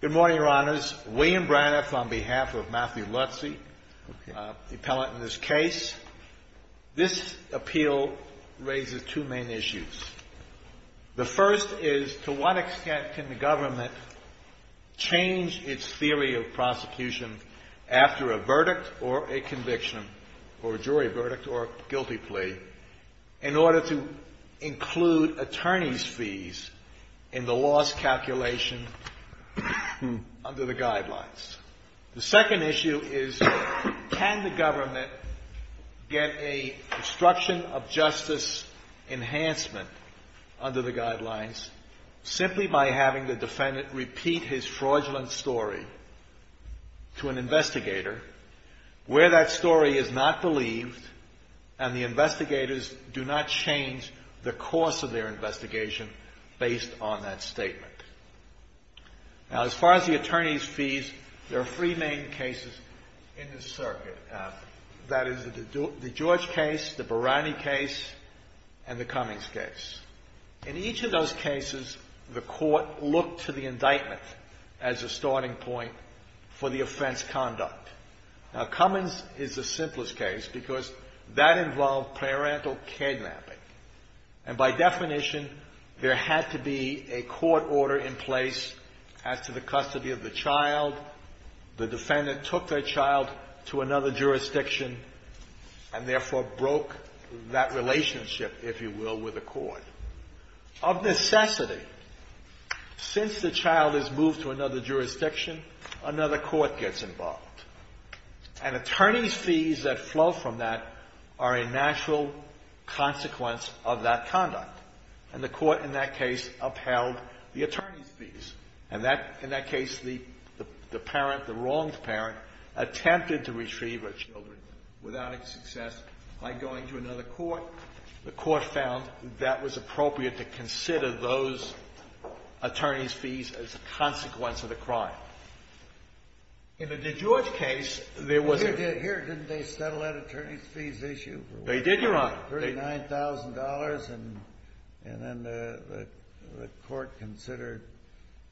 Good morning, Your Honors. William Braniff on behalf of Matthew Lotze, the appellant in this case. This appeal raises two main issues. The first is, to what extent can the government change its theory of prosecution after a verdict or a conviction or jury verdict or guilty plea in order to include attorney's fees in the law's calculation under the guidelines? The second issue is, can the government get a destruction of justice enhancement under the guidelines simply by having the defendant repeat his fraudulent story to an investigator where that story is not believed and the investigators do not change the course of their investigation based on that statement? Now, as far as the attorney's fees, there are three main cases in this circuit. That is, the George case, the Barani case, and the Cummings case. In each of those cases, the court looked to the indictment as a starting point for the offense conduct. Now, Cummings is the simplest case because that involved parental kidnapping. And by definition, there had to be a court order in place as to the custody of the child. The defendant took their child to another jurisdiction and therefore broke that relationship, if you will, with the court. Of necessity, since the child is moved to another jurisdiction, another court gets involved. And attorney's fees that flow from that are a natural consequence of that conduct. And the court in that case upheld the attorney's fees. And that, in that case, the parent, the wronged parent, attempted to retrieve her children without any success by going to another court. The court found that was appropriate to consider those attorney's fees as a consequence of the crime. In the DeGeorge case, there was a — Here, didn't they settle that attorney's fees issue? They did, Your Honor. $39,000, and then the court considered,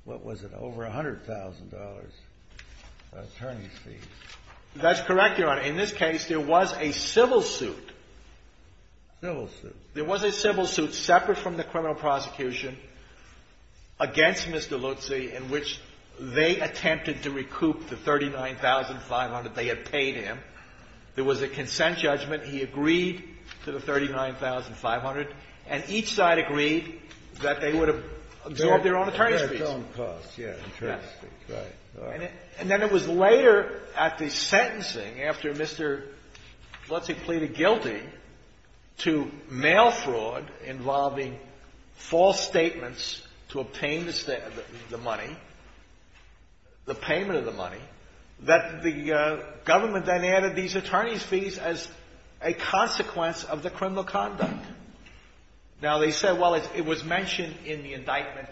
what was it, over $100,000 attorney's fees. That's correct, Your Honor. In this case, there was a civil suit. Civil suit. There was a civil suit separate from the criminal prosecution against Mr. Lutzi in which they attempted to recoup the $39,500 they had paid him. There was a consent judgment. He agreed to the $39,500, and each side agreed that they would have absorbed their own attorney's fees. Their own costs, yes. Right. And then it was later at the sentencing, after Mr. Lutzi pleaded guilty to mail fraud involving false statements to obtain the money, the payment of the money, that the government then added these attorney's fees as a consequence of the criminal conduct. Now, they said, well, it was mentioned in the indictment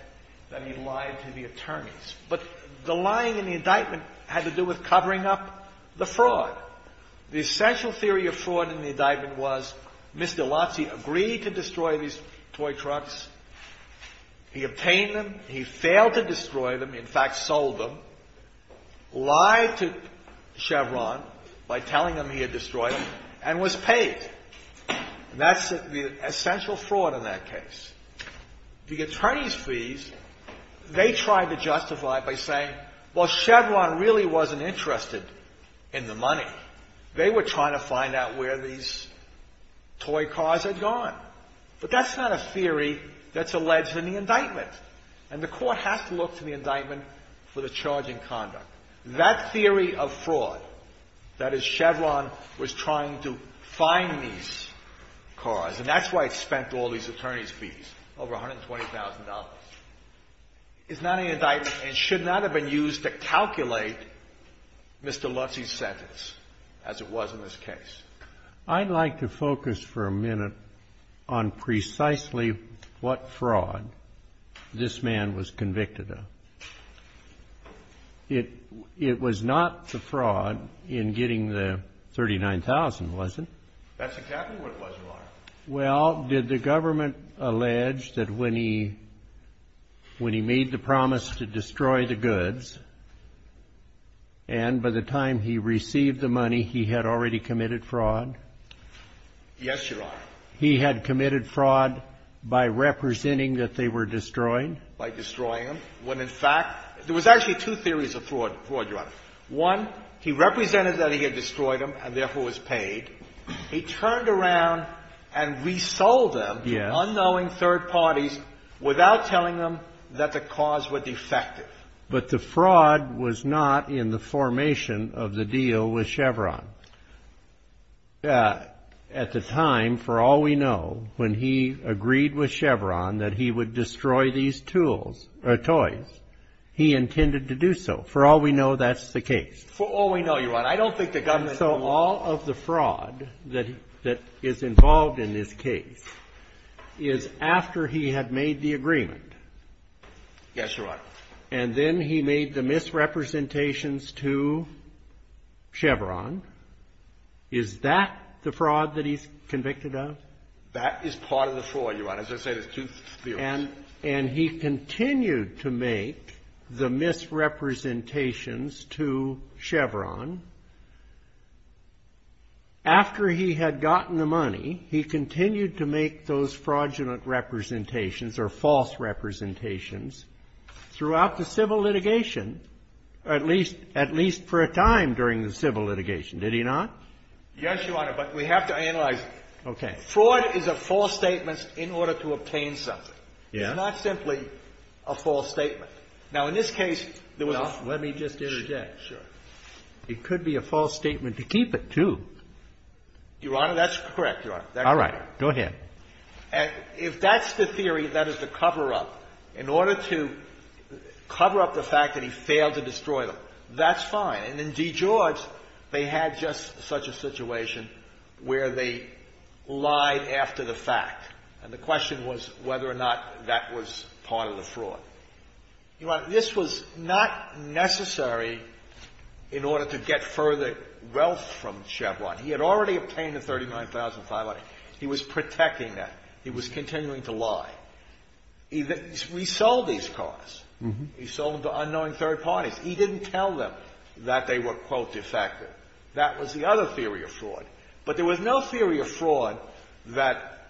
that he lied to the Chevron by telling them he had destroyed them and was paid. And that's the essential fraud in that case. The attorney's fees, they tried to justify by saying, well, we're going to pay you We're going to pay you $39,500. Well, Chevron really wasn't interested in the money. They were trying to find out where these toy cars had gone. But that's not a theory that's alleged in the indictment. And the Court has to look to the indictment for the charging conduct. That theory of fraud, that is, Chevron was trying to find these cars, and that's why it spent all these attorney's fees, over $120,000, is not an indictment and should not have been used to calculate Mr. Lutz's sentence, as it was in this case. I'd like to focus for a minute on precisely what fraud this man was convicted of. It was not the fraud in getting the $39,000, was it? Well, did the government allege that when he made the promise to destroy the goods and by the time he received the money, he had already committed fraud? Yes, Your Honor. He had committed fraud by representing that they were destroyed? By destroying them. When, in fact, there was actually two theories of fraud, Your Honor. One, he represented that he had destroyed them and, therefore, was paid. He turned around and resold them to unknowing third parties without telling them that the cars were defective. But the fraud was not in the formation of the deal with Chevron. At the time, for all we know, when he agreed with Chevron that he would destroy these tools or toys, he intended to do so. For all we know, that's the case. For all we know, Your Honor. I don't think the government... And so all of the fraud that is involved in this case is after he had made the agreement. Yes, Your Honor. And then he made the misrepresentations to Chevron. Is that the fraud that he's convicted of? That is part of the fraud, Your Honor. As I say, there's two theories. And he continued to make the misrepresentations to Chevron. After he had gotten the money, he continued to make those fraudulent representations or false representations throughout the civil litigation, at least for a time during the civil litigation. Did he not? Yes, Your Honor. But we have to analyze it. Okay. Fraud is a false statement in order to obtain something. Yes. It's not simply a false statement. Now, in this case, there was a... There could be a false statement to keep it, too. Your Honor, that's correct, Your Honor. All right. Go ahead. And if that's the theory, that is the cover-up, in order to cover up the fact that he failed to destroy them, that's fine. And in D. George, they had just such a situation where they lied after the fact. And the question was whether or not that was part of the fraud. Your Honor, this was not necessary in order to get further wealth from Chevron. He had already obtained the $39,500. He was protecting that. He was continuing to lie. He sold these cars. Uh-huh. He sold them to unknowing third parties. He didn't tell them that they were, quote, defective. That was the other theory of fraud. But there was no theory of fraud that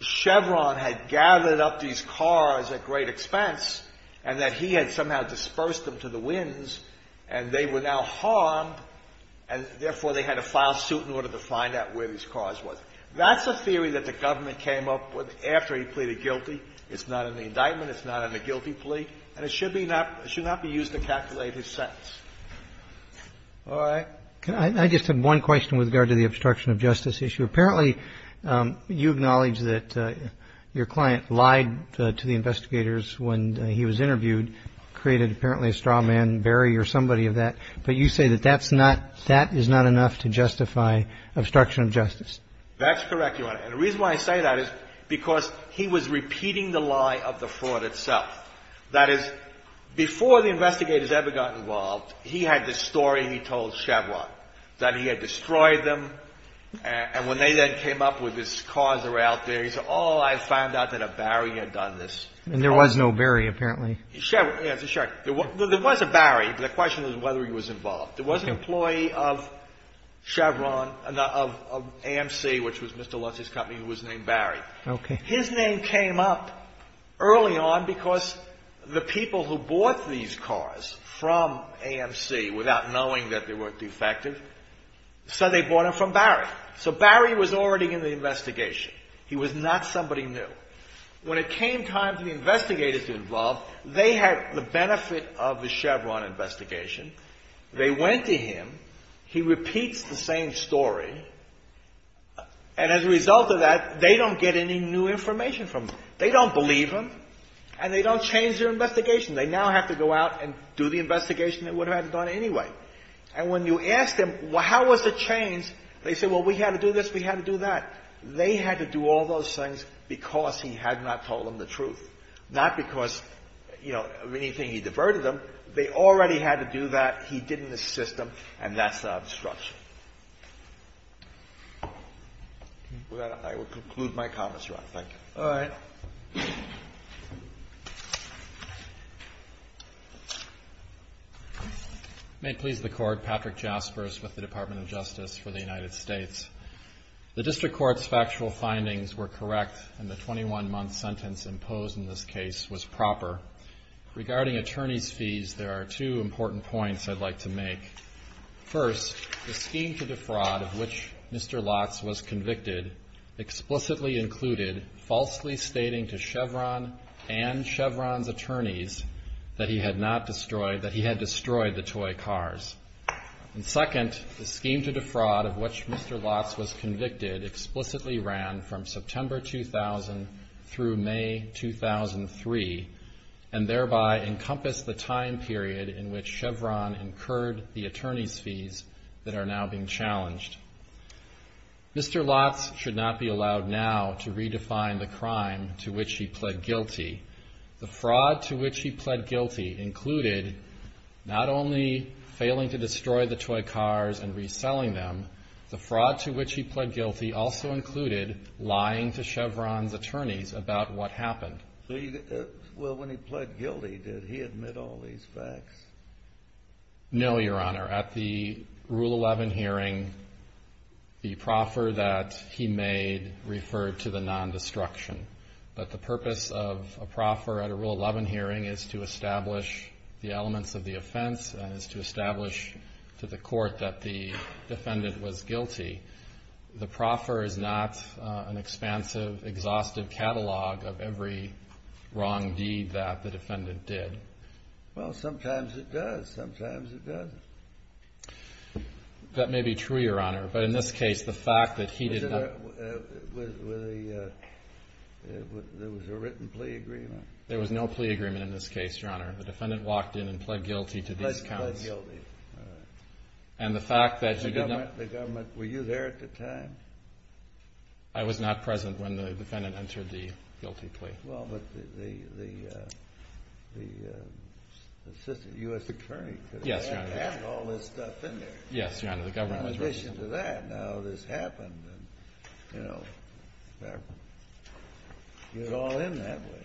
Chevron had gathered up these cars at great expense and that he had somehow dispersed them to the winds, and they were now harmed, and therefore, they had to file suit in order to find out where these cars were. That's a theory that the government came up with after he pleaded guilty. It's not in the indictment. It's not in the guilty plea. And it should be not be used to calculate his sentence. All right. I just have one question with regard to the obstruction of justice issue. Apparently, you acknowledge that your client lied to the investigators when he was interviewed, created apparently a straw man, Barry or somebody of that. But you say that that's not – that is not enough to justify obstruction of justice. That's correct, Your Honor. And the reason why I say that is because he was repeating the lie of the fraud itself. That is, before the investigators ever got involved, he had this story he told Chevron that he had destroyed them. And when they then came up with these cars that were out there, he said, oh, I found out that a Barry had done this. And there was no Barry, apparently. Yes, there was a Barry. The question is whether he was involved. There was an employee of Chevron, of AMC, which was Mr. Lutz's company, who was named Barry. And his name came up early on because the people who bought these cars from AMC, without knowing that they were defective, said they bought them from Barry. So Barry was already in the investigation. He was not somebody new. When it came time for the investigators to get involved, they had the benefit of the Chevron investigation. They went to him. He repeats the same story. And as a result of that, they don't get any new information from him. They don't believe him. And they don't change their investigation. They now have to go out and do the investigation they would have had done anyway. And when you ask them, how was it changed, they say, well, we had to do this, we had to do that. They had to do all those things because he had not told them the truth, not because, you know, anything, he diverted them. They already had to do that. He didn't assist them. And that's the obstruction. I will conclude my comments, Ron. Thank you. All right. May it please the Court, Patrick Jaspers with the Department of Justice for the United States. The District Court's factual findings were correct, and the 21-month sentence imposed in this case was proper. Regarding attorney's fees, there are two important points I'd like to make. First, the scheme to defraud of which Mr. Lotz was convicted explicitly included falsely stating to Chevron and Chevron's attorneys that he had not destroyed, that he had destroyed the toy cars. And second, the scheme to defraud of which Mr. Lotz was convicted explicitly ran from and thereby encompassed the time period in which Chevron incurred the attorney's fees that are now being challenged. Mr. Lotz should not be allowed now to redefine the crime to which he pled guilty. The fraud to which he pled guilty included not only failing to destroy the toy cars and reselling them, the fraud to which he pled guilty also included lying to Chevron's attorneys about what happened. Well, when he pled guilty, did he admit all these facts? No, Your Honor. At the Rule 11 hearing, the proffer that he made referred to the non-destruction. But the purpose of a proffer at a Rule 11 hearing is to establish the elements of the offense and is to establish to the court that the defendant was guilty. The proffer is not an expansive, exhaustive catalog of every wrong deed that the defendant did. Well, sometimes it does. Sometimes it doesn't. That may be true, Your Honor, but in this case, the fact that he did not... Was there a written plea agreement? There was no plea agreement in this case, Your Honor. The defendant walked in and pled guilty to these counts. Pled guilty, all right. And the fact that you did not... The government, were you there at the time? I was not present when the defendant entered the guilty plea. Well, but the assistant U.S. attorney could have had all this stuff in there. Yes, Your Honor, the government was... In addition to that, now this happened and, you know, you're all in that way.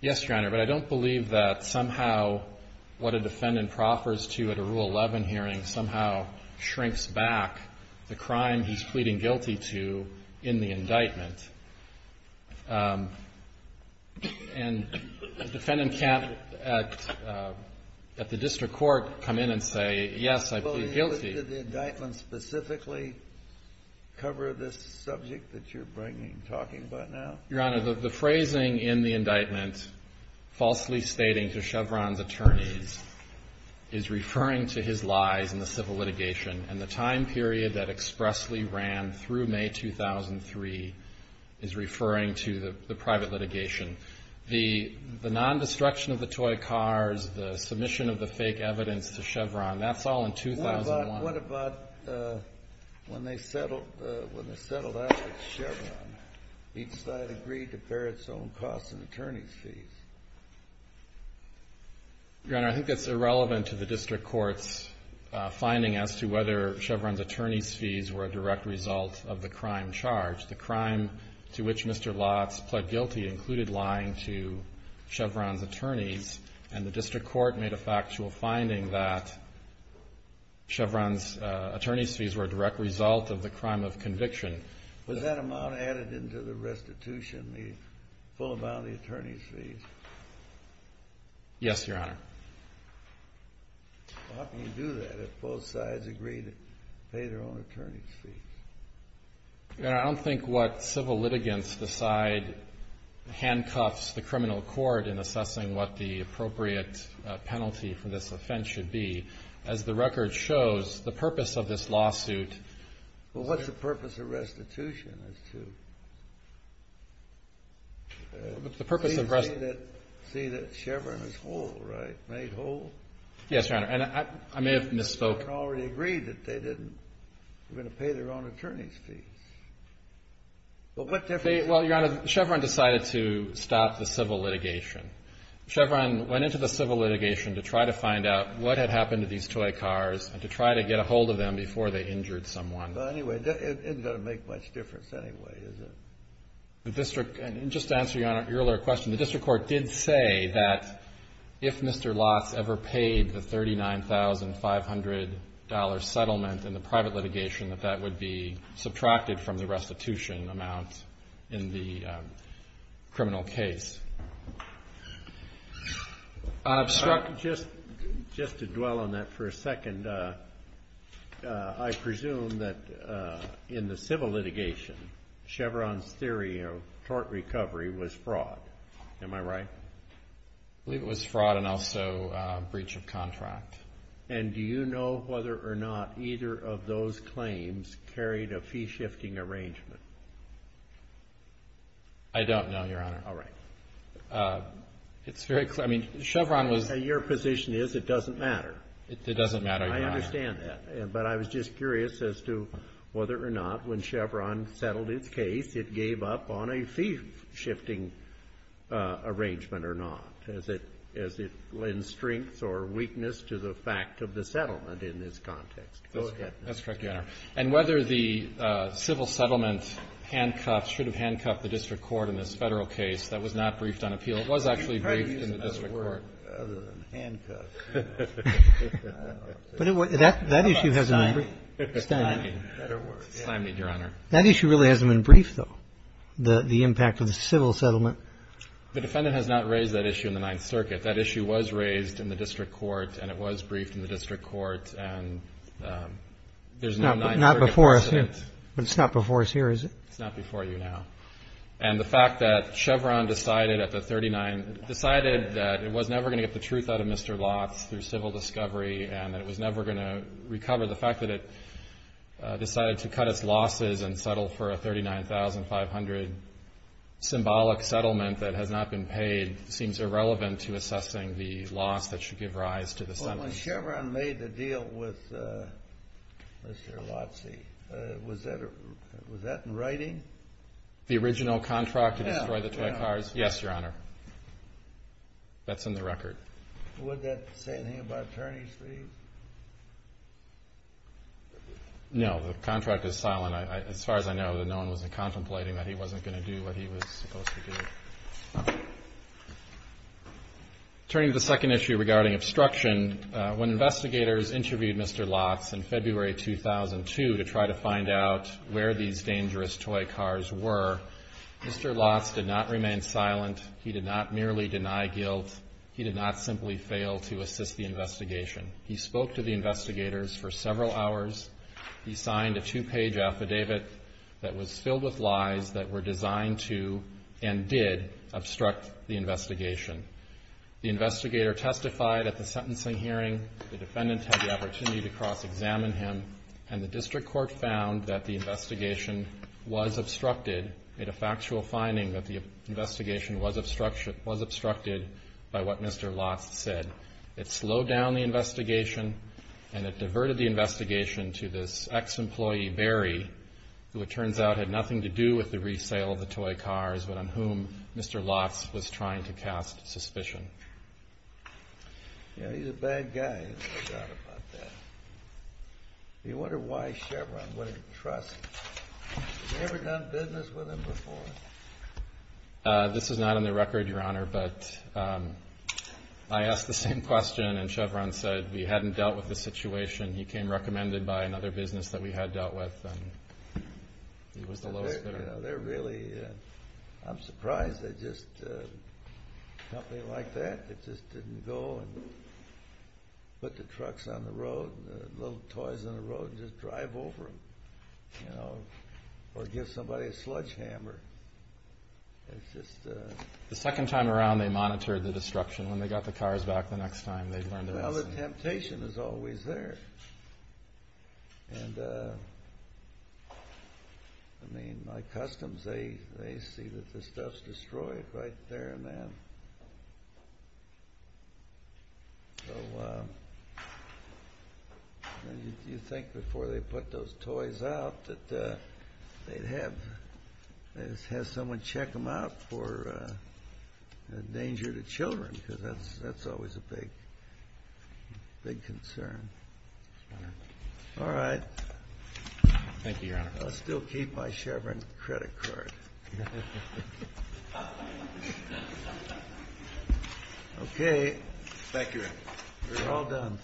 Yes, Your Honor, but I don't believe that somehow what a defendant proffers to at a Rule 11 hearing somehow shrinks back the crime he's pleading guilty to in the indictment. And the defendant can't, at the district court, come in and say, yes, I plead guilty. Well, did the indictment specifically cover this subject that you're bringing, talking about now? Your Honor, the phrasing in the indictment, falsely stating to Chevron's attorneys, is referring to his lies in the civil litigation, and the time period that expressly ran through May 2003 is referring to the private litigation. The non-destruction of the toy cars, the submission of the fake evidence to Chevron, that's all in 2001. What about when they settled out with Chevron? Each side agreed to bear its own costs and attorney's fees. Your Honor, I think that's irrelevant to the district court's finding as to whether Chevron's attorney's fees were a direct result of the crime charged. The crime to which Mr. Lotz pled guilty included lying to Chevron's attorneys, and the district court made a factual finding that Chevron's attorney's fees were a direct result of the crime of conviction. Was that amount added into the restitution, the full amount of the attorney's fees? Yes, Your Honor. How can you do that if both sides agreed to pay their own attorney's fees? Your Honor, I don't think what civil litigants decide handcuffs the criminal court in assessing what the appropriate penalty for this offense should be. As the record shows, the purpose of this lawsuit — Well, what's the purpose of restitution as to — The purpose of rest — See that Chevron is whole, right, made whole? Yes, Your Honor, and I may have misspoke. Chevron already agreed that they didn't — they're going to pay their own attorney's fees. But what difference — Well, Your Honor, Chevron decided to stop the civil litigation. Chevron went into the civil litigation to try to find out what had happened to these toy cars and to try to get a hold of them before they injured someone. But anyway, it isn't going to make much difference anyway, is it? The district — and just to answer Your Honor, your earlier question, the district court did say that if Mr. Lotz ever paid the $39,500 settlement in the private litigation, that that would be subtracted from the restitution amount in the criminal case. Just to dwell on that for a second, I presume that in the civil litigation, Chevron's theory of tort recovery was fraud. Am I right? I believe it was fraud and also breach of contract. And do you know whether or not either of those claims carried a fee-shifting arrangement? I don't know, Your Honor. All right. It's very — I mean, Chevron was — Your position is it doesn't matter. It doesn't matter. I understand that. But I was just curious as to whether or not when Chevron settled its case, it gave up on a fee-shifting arrangement or not, as it lends strengths or weakness to the fact of the settlement in this context. Go ahead. That's correct, Your Honor. And whether the civil settlement handcuffs — should have handcuffed the district court in this Federal case, that was not briefed on appeal. It was actually briefed in the district court. Well, other than handcuffs, you know, I don't know. But that issue hasn't been briefed. How about stymied? Stymied. Stymied, Your Honor. That issue really hasn't been briefed, though, the impact of the civil settlement. The defendant has not raised that issue in the Ninth Circuit. That issue was raised in the district court, and it was briefed in the district court. And there's no Ninth Circuit precedent. Not before us here. But it's not before us here, is it? It's not before you now. And the fact that Chevron decided at the 39 — decided that it was never going to get the truth out of Mr. Lotz through civil discovery and that it was never going to recover, the fact that it decided to cut its losses and settle for a $39,500 symbolic settlement that has not been paid seems irrelevant to assessing the loss that should give rise to the sentence. When Chevron made the deal with Mr. Lotz, was that in writing? The original contract to destroy the toy cars? Yes, Your Honor. That's in the record. Would that say anything about attorneys' fees? No, the contract is silent. As far as I know, no one was contemplating that he wasn't going to do what he was supposed to do. Turning to the second issue regarding obstruction, when investigators interviewed Mr. Lotz in February 2002 to try to find out where these dangerous toy cars were, Mr. Lotz did not remain silent. He did not merely deny guilt. He did not simply fail to assist the investigation. He spoke to the investigators for several hours. He signed a two-page affidavit that was filled with lies that were designed to and did obstruct the investigation. The investigator testified at the sentencing hearing. The defendant had the opportunity to cross-examine him, and the district court found that the investigation was obstructed, made a factual finding that the investigation was obstructed by what Mr. Lotz said. It slowed down the investigation, and it diverted the investigation to this ex-employee, Barry, who it turns out had nothing to do with the resale of the toy cars, but on whom Mr. Lotz was trying to cast suspicion. Yeah, he's a bad guy, no doubt about that. You wonder why Chevron wouldn't trust him. Have you ever done business with him before? This is not on the record, Your Honor, but I asked the same question, and Chevron said we hadn't dealt with the situation. He came recommended by another business that we had dealt with, and he was the lowest bidder. They're really, I'm surprised they just, a company like that, that just didn't go and put the trucks on the road and the little toys on the road and just drive over them or give somebody a sledgehammer. The second time around they monitored the disruption. When they got the cars back the next time, they learned their lesson. Well, the temptation is always there. I mean, my customs, they see that the stuff's destroyed right there and then. So you think before they put those toys out that they'd have someone check them out for danger to children, because that's always a big concern. All right. Thank you, Your Honor. I'll still keep my Chevron credit card. Okay. Thank you, Your Honor. We're all done. Thanks.